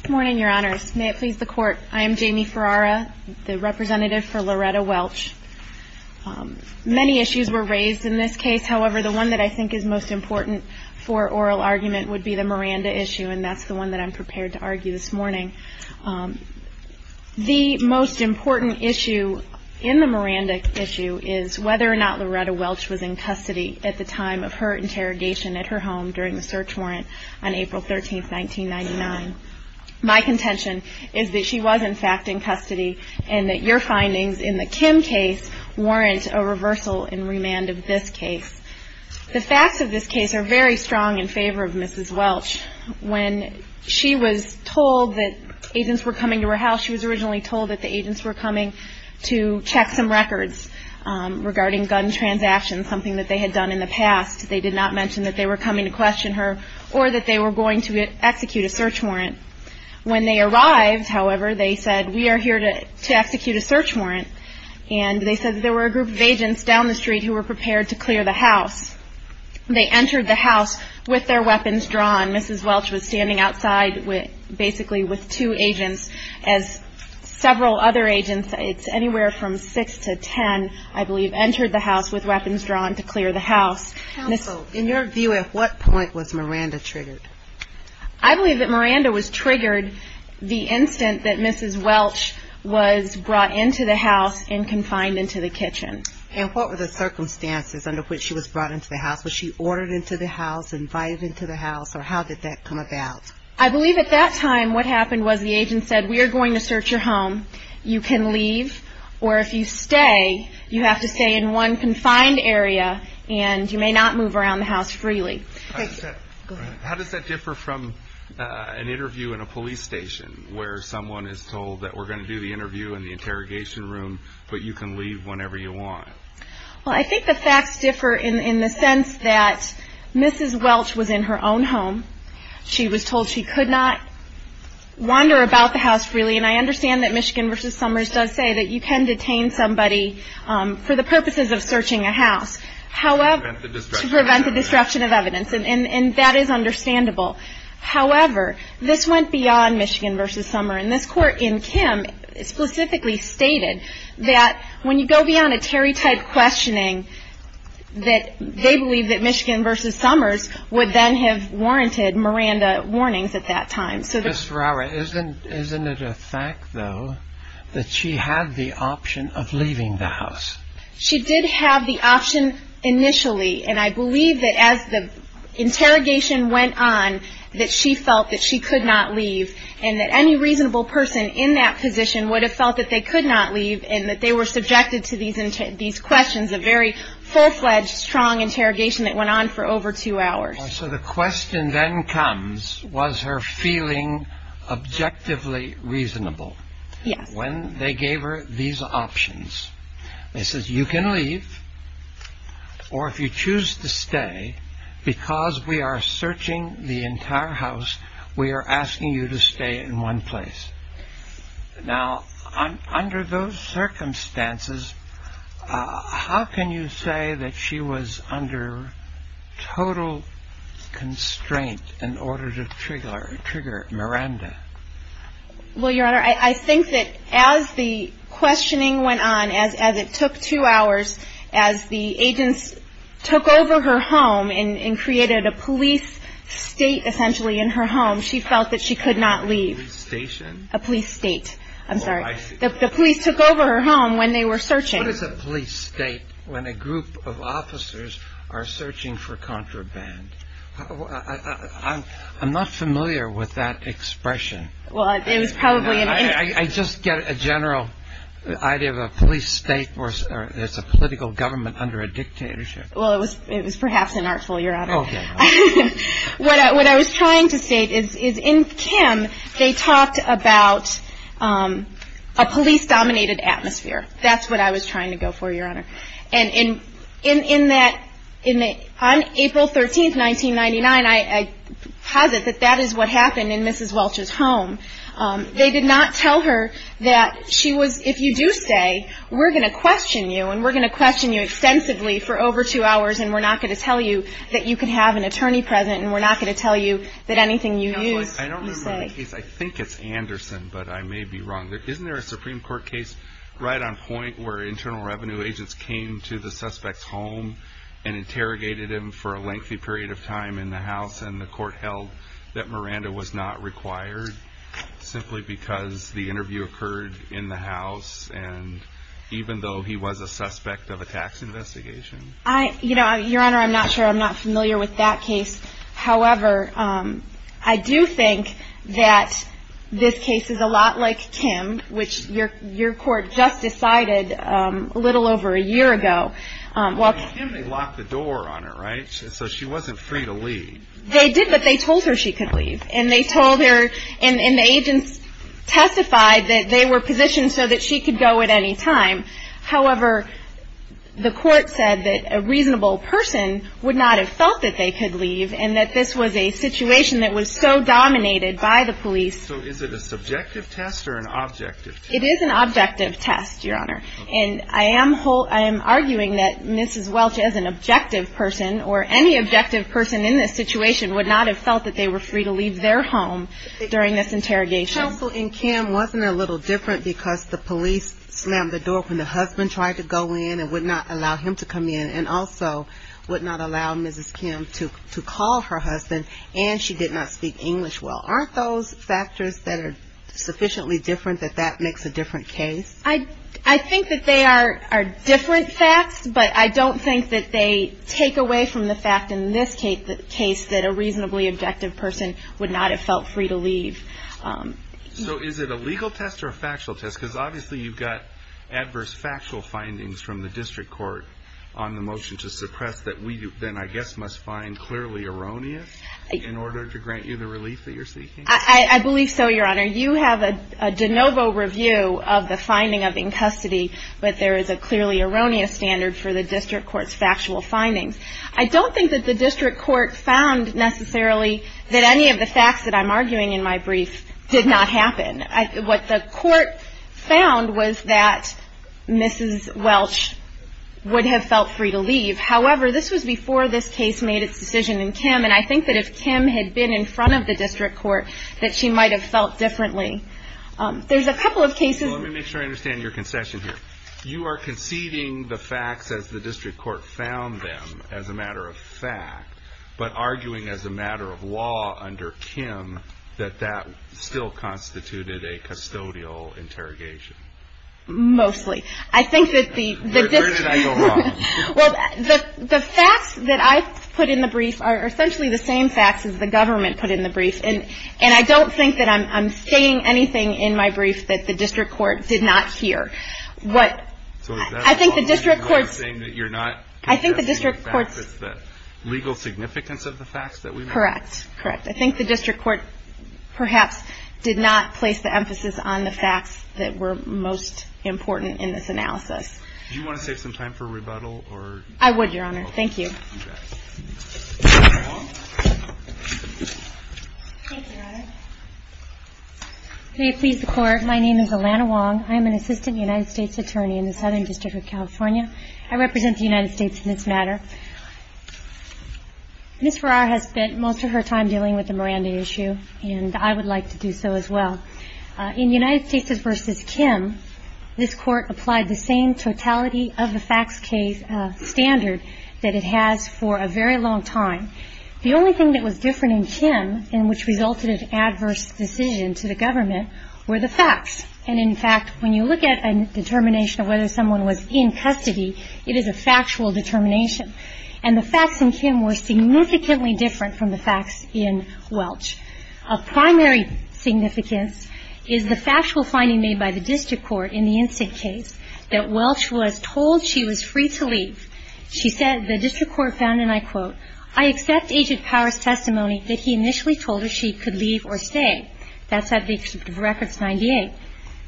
Good morning, your honors. May it please the court, I am Jamie Ferrara, the representative for Loretta Welch. Many issues were raised in this case, however, the one that I think is most important for oral argument would be the Miranda issue, and that's the one that I'm prepared to argue this morning. The most important issue in the Miranda issue is whether or not Loretta Welch was in custody at the time of her interrogation at her home during the search warrant on April 13, 1999. My contention is that she was, in fact, in custody, and that your findings in the Kim case warrant a reversal and remand of this case. The facts of this case are very strong in favor of Mrs. Welch. When she was told that agents were coming to her house, she was originally told that the agents were coming to check some records regarding gun transactions, something that they had done in the past. They did not mention that they were coming to question her or that they were going to execute a search warrant. When they arrived, however, they said, we are here to execute a search warrant, and they said that there were a group of agents down the street who were prepared to clear the house. They entered the house with their weapons drawn. Mrs. Welch was standing outside basically with two agents as several other agents. It's anywhere from six to ten, I believe, entered the house with weapons drawn to clear the house. Counsel, in your view, at what point was Miranda triggered? I believe that Miranda was triggered the instant that Mrs. Welch was brought into the house and confined into the kitchen. And what were the circumstances under which she was brought into the house? Was she ordered into the house, invited into the house, or how did that come about? I believe at that time what happened was the agent said, we are going to search your home. You can leave, or if you stay, you have to stay in one confined area, and you may not move around the house freely. How does that differ from an interview in a police station, where someone is told that we're going to do the interview in the interrogation room, but you can leave whenever you want? Well, I think the facts differ in the sense that Mrs. Welch was in her own home. She was told she could not wander about the house freely, and I understand that Michigan v. Summers does say that you can detain somebody for the purposes of searching a house. To prevent the disruption of evidence. To prevent the disruption of evidence, and that is understandable. However, this went beyond Michigan v. Summers, and this court in Kim specifically stated that when you go beyond a Terry-type questioning, that they believe that Michigan v. Summers would then have warranted Miranda warnings at that time. Ms. Ferrara, isn't it a fact, though, that she had the option of leaving the house? She did have the option initially, and I believe that as the interrogation went on that she felt that she could not leave, and that any reasonable person in that position would have felt that they could not leave, and that they were subjected to these questions, a very full-fledged, strong interrogation that went on for over two hours. So the question then comes, was her feeling objectively reasonable? Yes. When they gave her these options, they said, you can leave, or if you choose to stay, because we are searching the entire house, we are asking you to stay in one place. Now, under those circumstances, how can you say that she was under total constraint in order to trigger Miranda? Well, Your Honor, I think that as the questioning went on, as it took two hours, as the agents took over her home and created a police state, essentially, in her home, she felt that she could not leave. A police station? A police state. I'm sorry. Oh, I see. The police took over her home when they were searching. What is a police state when a group of officers are searching for contraband? I'm not familiar with that expression. Well, it was probably in any... I just get a general idea of a police state where there's a political government under a dictatorship. Well, it was perhaps inartful, Your Honor. Oh, yes. What I was trying to state is, in Kim, they talked about a police-dominated atmosphere. That's what I was trying to go for, Your Honor. And in that, on April 13, 1999, I posit that that is what happened in Mrs. Welch's home. They did not tell her that she was, if you do say, we're going to question you and we're going to question you extensively for over two hours and we're not going to tell you that you can have an attorney present and we're not going to tell you that anything you use, you say. Counsel, I don't remember the case. I think it's Anderson, but I may be wrong. Isn't there a Supreme Court case right on point where internal revenue agents came to the suspect's home and interrogated him for a lengthy period of time in the house and the court held that Miranda was not required simply because the interview occurred in the house and even though he was a suspect of a tax investigation? Your Honor, I'm not sure. I'm not familiar with that case. However, I do think that this case is a lot like Kim, which your court just decided a little over a year ago. Well, Kim, they locked the door on her, right? So she wasn't free to leave. They did, but they told her she could leave. And they told her and the agents testified that they were positioned so that she could go at any time. However, the court said that a reasonable person would not have felt that they could leave and that this was a situation that was so dominated by the police. So is it a subjective test or an objective test? It is an objective test, your Honor. And I am arguing that Mrs. Welch as an objective person or any objective person in this situation would not have felt that they were free to leave their home during this interrogation. Counsel, in Kim, wasn't it a little different because the police slammed the door when the husband tried to go in and would not allow him to come in and also would not allow Mrs. Kim to call her husband, and she did not speak English well. Aren't those factors that are sufficiently different that that makes a different case? I think that they are different facts, but I don't think that they take away from the fact in this case that a reasonably objective person would not have felt free to leave. So is it a legal test or a factual test? Because obviously you've got adverse factual findings from the district court on the motion to suppress that we then I guess must find clearly erroneous in order to grant you the relief that you're seeking? I believe so, your Honor. You have a de novo review of the finding of in custody, but there is a clearly erroneous standard for the district court's factual findings. I don't think that the district court found necessarily that any of the facts that I'm arguing in my brief did not happen. What the court found was that Mrs. Welch would have felt free to leave. However, this was before this case made its decision in Kim, and I think that if Kim had been in front of the district court that she might have felt differently. There's a couple of cases. Let me make sure I understand your concession here. You are conceding the facts as the district court found them as a matter of fact, but arguing as a matter of law under Kim that that still constituted a custodial interrogation? Mostly. Where did I go wrong? Well, the facts that I put in the brief are essentially the same facts as the government put in the brief, and I don't think that I'm saying anything in my brief that the district court did not hear. So is that why you're not saying that you're not conceding the facts? It's the legal significance of the facts that we made? Correct. Correct. I think the district court perhaps did not place the emphasis on the facts that were most important in this analysis. Do you want to save some time for rebuttal? I would, Your Honor. Thank you. Thank you, Your Honor. May it please the Court, my name is Alana Wong. I am an assistant United States attorney in the Southern District of California. I represent the United States in this matter. Ms. Farrar has spent most of her time dealing with the Miranda issue, and I would like to do so as well. In United States v. Kim, this Court applied the same totality of the facts case standard that it has for a very long time. The only thing that was different in Kim and which resulted in adverse decision to the government were the facts. And, in fact, when you look at a determination of whether someone was in custody, it is a factual determination. And the facts in Kim were significantly different from the facts in Welch. Of primary significance is the factual finding made by the district court in the incident case that Welch was told she was free to leave. She said the district court found, and I quote, I accept Agent Power's testimony that he initially told her she could leave or stay. That's at the excerpt of records 98.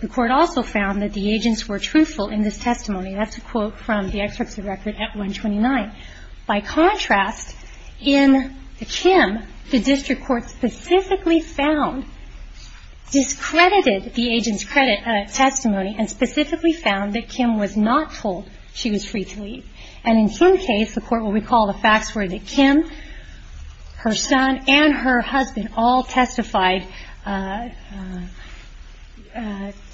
The court also found that the agents were truthful in this testimony. That's a quote from the excerpt of the record at 129. By contrast, in Kim, the district court specifically found, discredited the agent's testimony and specifically found that Kim was not told she was free to leave. And in Kim's case, the court will recall the facts were that Kim, her son, and her husband all testified to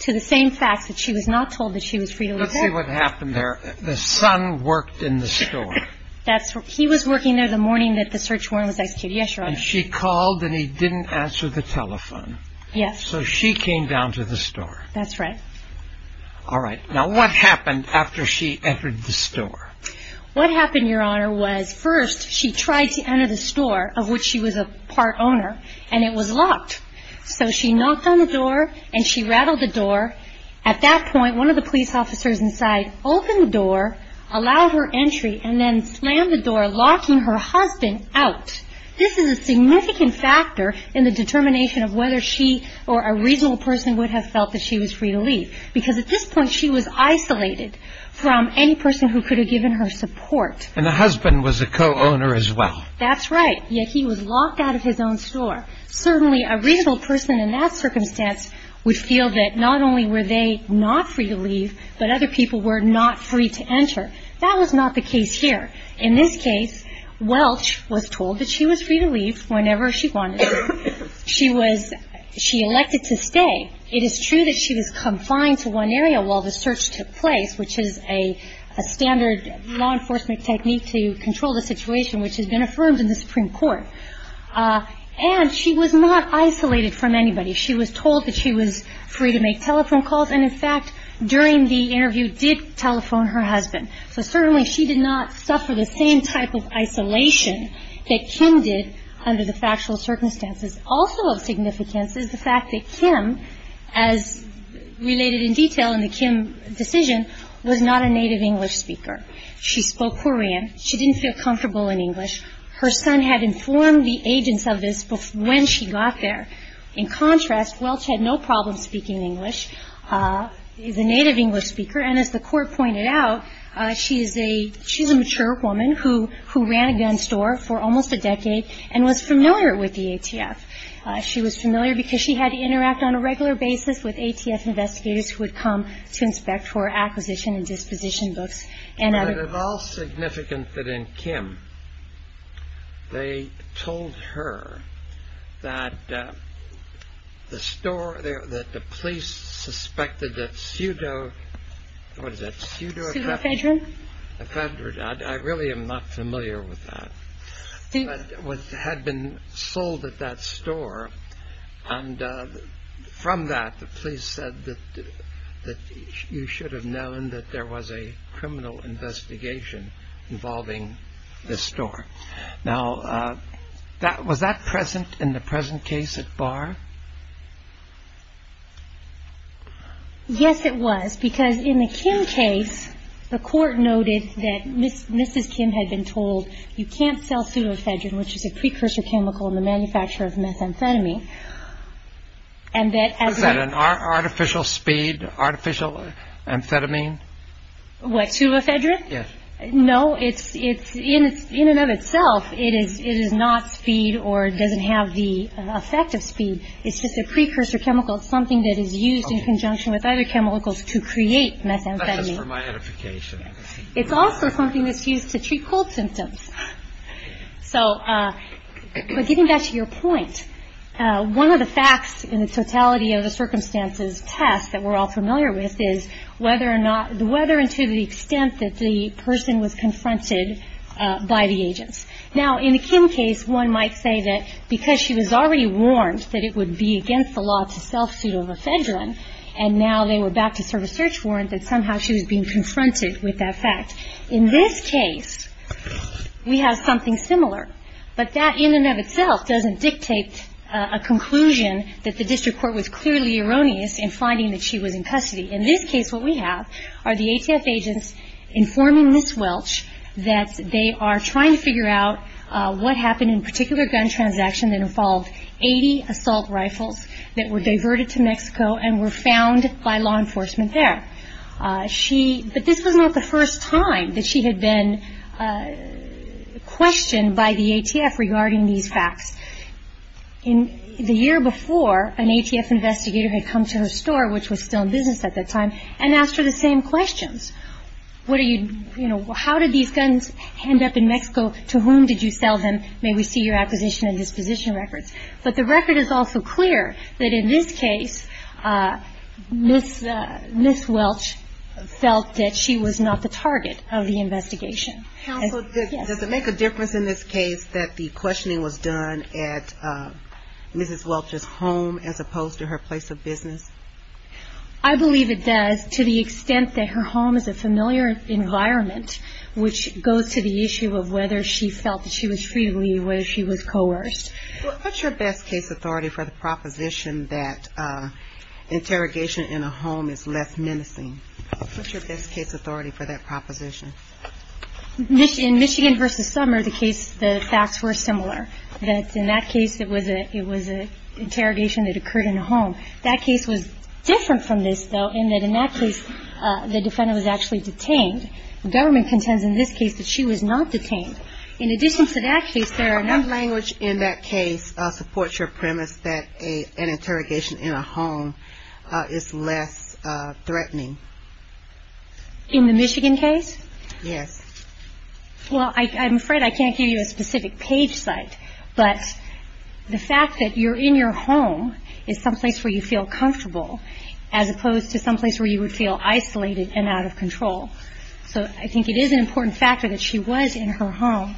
the same facts, that she was not told that she was free to leave. Let's see what happened there. The son worked in the store. He was working there the morning that the search warrant was executed. Yes, Your Honor. And she called and he didn't answer the telephone. Yes. So she came down to the store. That's right. All right. Now, what happened after she entered the store? What happened, Your Honor, was first she tried to enter the store, of which she was a part owner, and it was locked. So she knocked on the door and she rattled the door. At that point, one of the police officers inside opened the door, allowed her entry, and then slammed the door, locking her husband out. This is a significant factor in the determination of whether she or a reasonable person would have felt that she was free to leave. Because at this point she was isolated from any person who could have given her support. And the husband was a co-owner as well. That's right. Yet he was locked out of his own store. Certainly a reasonable person in that circumstance would feel that not only were they not free to leave, but other people were not free to enter. That was not the case here. In this case, Welch was told that she was free to leave whenever she wanted. She elected to stay. It is true that she was confined to one area while the search took place, which is a standard law enforcement technique to control the situation which has been affirmed in the Supreme Court. And she was not isolated from anybody. She was told that she was free to make telephone calls. And, in fact, during the interview did telephone her husband. So certainly she did not suffer the same type of isolation that Kim did under the factual circumstances. Also of significance is the fact that Kim, as related in detail in the Kim decision, was not a native English speaker. She spoke Korean. She didn't feel comfortable in English. Her son had informed the agents of this when she got there. In contrast, Welch had no problem speaking English. She's a native English speaker. And as the court pointed out, she's a mature woman who ran a gun store for almost a decade and was familiar with the ATF. She was familiar because she had to interact on a regular basis with ATF investigators who would come to inspect for acquisition and disposition books. And of all significance that in Kim they told her that the store there, that the police suspected that pseudo, what is that? Pseudo-effedron? I really am not familiar with that. It had been sold at that store. And from that, the police said that you should have known that there was a criminal investigation involving this store. Now, was that present in the present case at Barr? Yes, it was, because in the Kim case, the court noted that Mrs. Kim had been told you can't sell pseudo-effedron, which is a precursor chemical in the manufacture of methamphetamine, and that as a ñ Was that an artificial speed, artificial amphetamine? What, pseudo-effedron? Yes. No. In and of itself, it is not speed or doesn't have the effect of speed. It's just a precursor chemical. It's something that is used in conjunction with other chemicals to create methamphetamine. That's just for my edification. It's also something that's used to treat cold symptoms. So, but getting back to your point, one of the facts in the totality of the circumstances test that we're all familiar with is whether or not ñ whether and to the extent that the person was confronted by the agents. Now, in the Kim case, one might say that because she was already warned that it would be against the law to sell pseudo-effedron, and now they were back to serve a search warrant, that somehow she was being confronted with that fact. In this case, we have something similar, but that in and of itself doesn't dictate a conclusion that the district court was clearly erroneous in finding that she was in custody. In this case, what we have are the ATF agents informing Ms. Welch that they are trying to figure out what happened in a particular gun transaction that involved 80 assault rifles that were found by law enforcement there. She ñ but this was not the first time that she had been questioned by the ATF regarding these facts. In the year before, an ATF investigator had come to her store, which was still in business at that time, and asked her the same questions. What are you ñ you know, how did these guns end up in Mexico? To whom did you sell them? May we see your acquisition and disposition records? But the record is also clear that in this case, Ms. Welch felt that she was not the target of the investigation. Counsel, does it make a difference in this case that the questioning was done at Mrs. Welch's home as opposed to her place of business? I believe it does, to the extent that her home is a familiar environment, which goes to the issue of whether she felt that she was free to leave, whether she was coerced. Well, what's your best case authority for the proposition that interrogation in a home is less menacing? What's your best case authority for that proposition? In Michigan v. Summer, the case ñ the facts were similar. That in that case, it was a ñ it was an interrogation that occurred in a home. That case was different from this, though, in that in that case, the defendant was actually detained. Government contends in this case that she was not detained. In addition to that case, there are ñ What language in that case supports your premise that an interrogation in a home is less threatening? In the Michigan case? Yes. Well, I'm afraid I can't give you a specific page site, but the fact that you're in your home is someplace where you feel comfortable as opposed to someplace where you would feel isolated and out of control. So I think it is an important factor that she was in her home.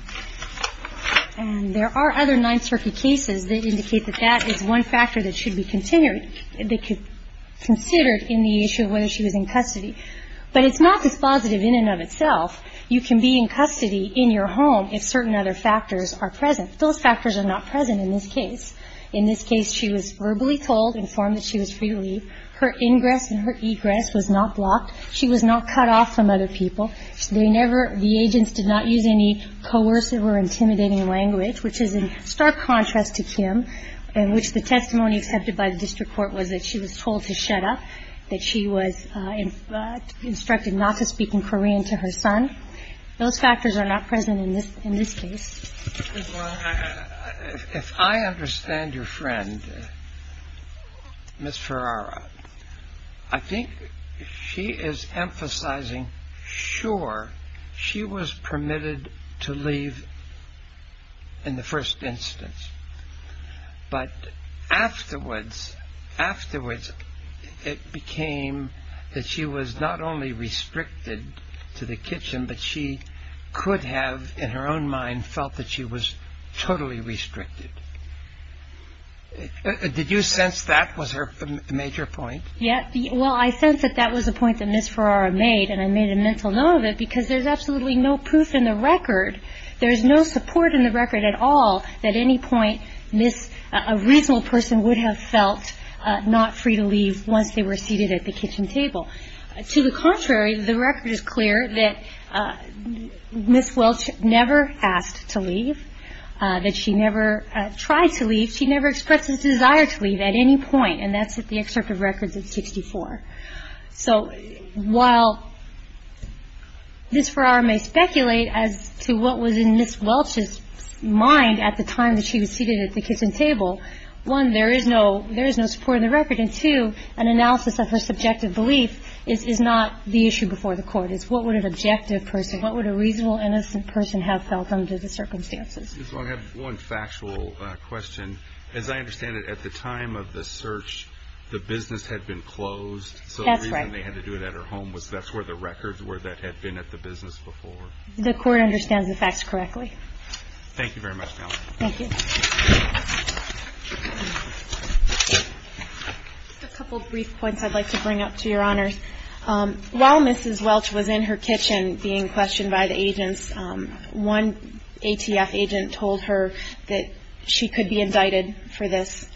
And there are other Ninth Circuit cases that indicate that that is one factor that should be considered in the issue of whether she was in custody. But it's not dispositive in and of itself. You can be in custody in your home if certain other factors are present. Those factors are not present in this case. In this case, she was verbally told, informed that she was free to leave. Her ingress and her egress was not blocked. She was not cut off from other people. They never ñ the agents did not use any coercive or intimidating language, which is in stark contrast to Kim, in which the testimony accepted by the district court was that she was told to shut up, that she was instructed not to speak in Korean to her son. Those factors are not present in this case. If I understand your friend, Ms. Ferrara, I think she is emphasizing, sure, she was permitted to leave in the first instance. But afterwards, afterwards, it became that she was not only restricted to the kitchen, but she could have, in her own mind, felt that she was totally restricted. Did you sense that was her major point? Yes. Well, I sense that that was a point that Ms. Ferrara made, and I made a mental note of it because there's absolutely no proof in the record, there's no support in the record at all that any point Ms. ñ a reasonable person would have felt not free to leave once they were seated at the kitchen table. To the contrary, the record is clear that Ms. Welch never asked to leave, that she never tried to leave. She never expressed a desire to leave at any point, and that's at the excerpt of records of 64. So while Ms. Ferrara may speculate as to what was in Ms. Welch's mind at the time that she was seated at the kitchen table, one, there is no ñ there is no support in the record, and two, an analysis of her subjective belief is not the issue before the Court. It's what would an objective person, what would a reasonable, innocent person have felt under the circumstances. Ms. Welch, I have one factual question. As I understand it, at the time of the search, the business had been closed. That's right. So the reason they had to do it at her home was that's where the records were that had been at the business before. The Court understands the facts correctly. Thank you very much, Natalie. Thank you. Just a couple of brief points I'd like to bring up to Your Honors. While Mrs. Welch was in her kitchen being questioned by the agents, one ATF agent told her that she could be indicted for this,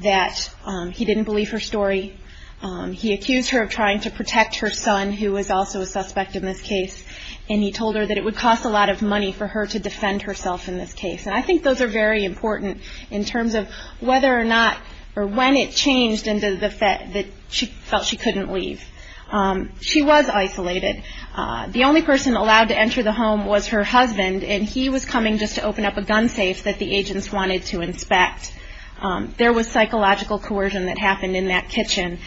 that he didn't believe her story. He accused her of trying to protect her son, who was also a suspect in this case, and he told her that it would cost a lot of money for her to defend herself in this case. And I think those are very important in terms of whether or not or when it changed into the fact that she felt she couldn't leave. She was isolated. The only person allowed to enter the home was her husband, and he was coming just to open up a gun safe that the agents wanted to inspect. There was psychological coercion that happened in that kitchen.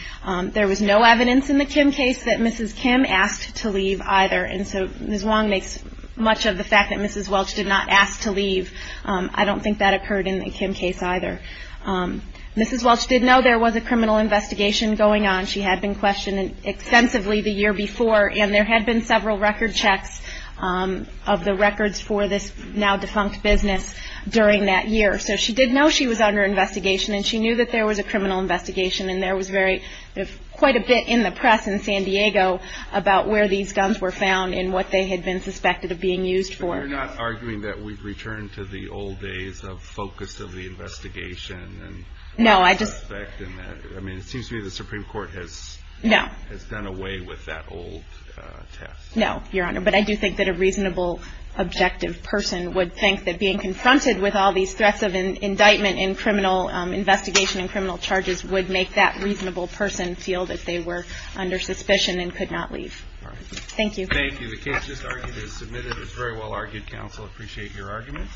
There was no evidence in the Kim case that Mrs. Kim asked to leave either, and so Ms. Wong makes much of the fact that Mrs. Welch did not ask to leave. I don't think that occurred in the Kim case either. Mrs. Welch did know there was a criminal investigation going on. She had been questioned extensively the year before, and there had been several record checks of the records for this now-defunct business during that year. So she did know she was under investigation, and she knew that there was a criminal investigation, and there was quite a bit in the press in San Diego about where these guns were found and what they had been suspected of being used for. But you're not arguing that we've returned to the old days of focus of the investigation and suspect in that? No. I mean, it seems to me the Supreme Court has done away with that old test. No, Your Honor, but I do think that a reasonable, objective person would think that being confronted with all these threats of indictment and criminal investigation and criminal charges would make that reasonable person feel that they were under suspicion and could not leave. Thank you. Thank you. The case just argued is submitted. It's very well argued, counsel. I appreciate your argument.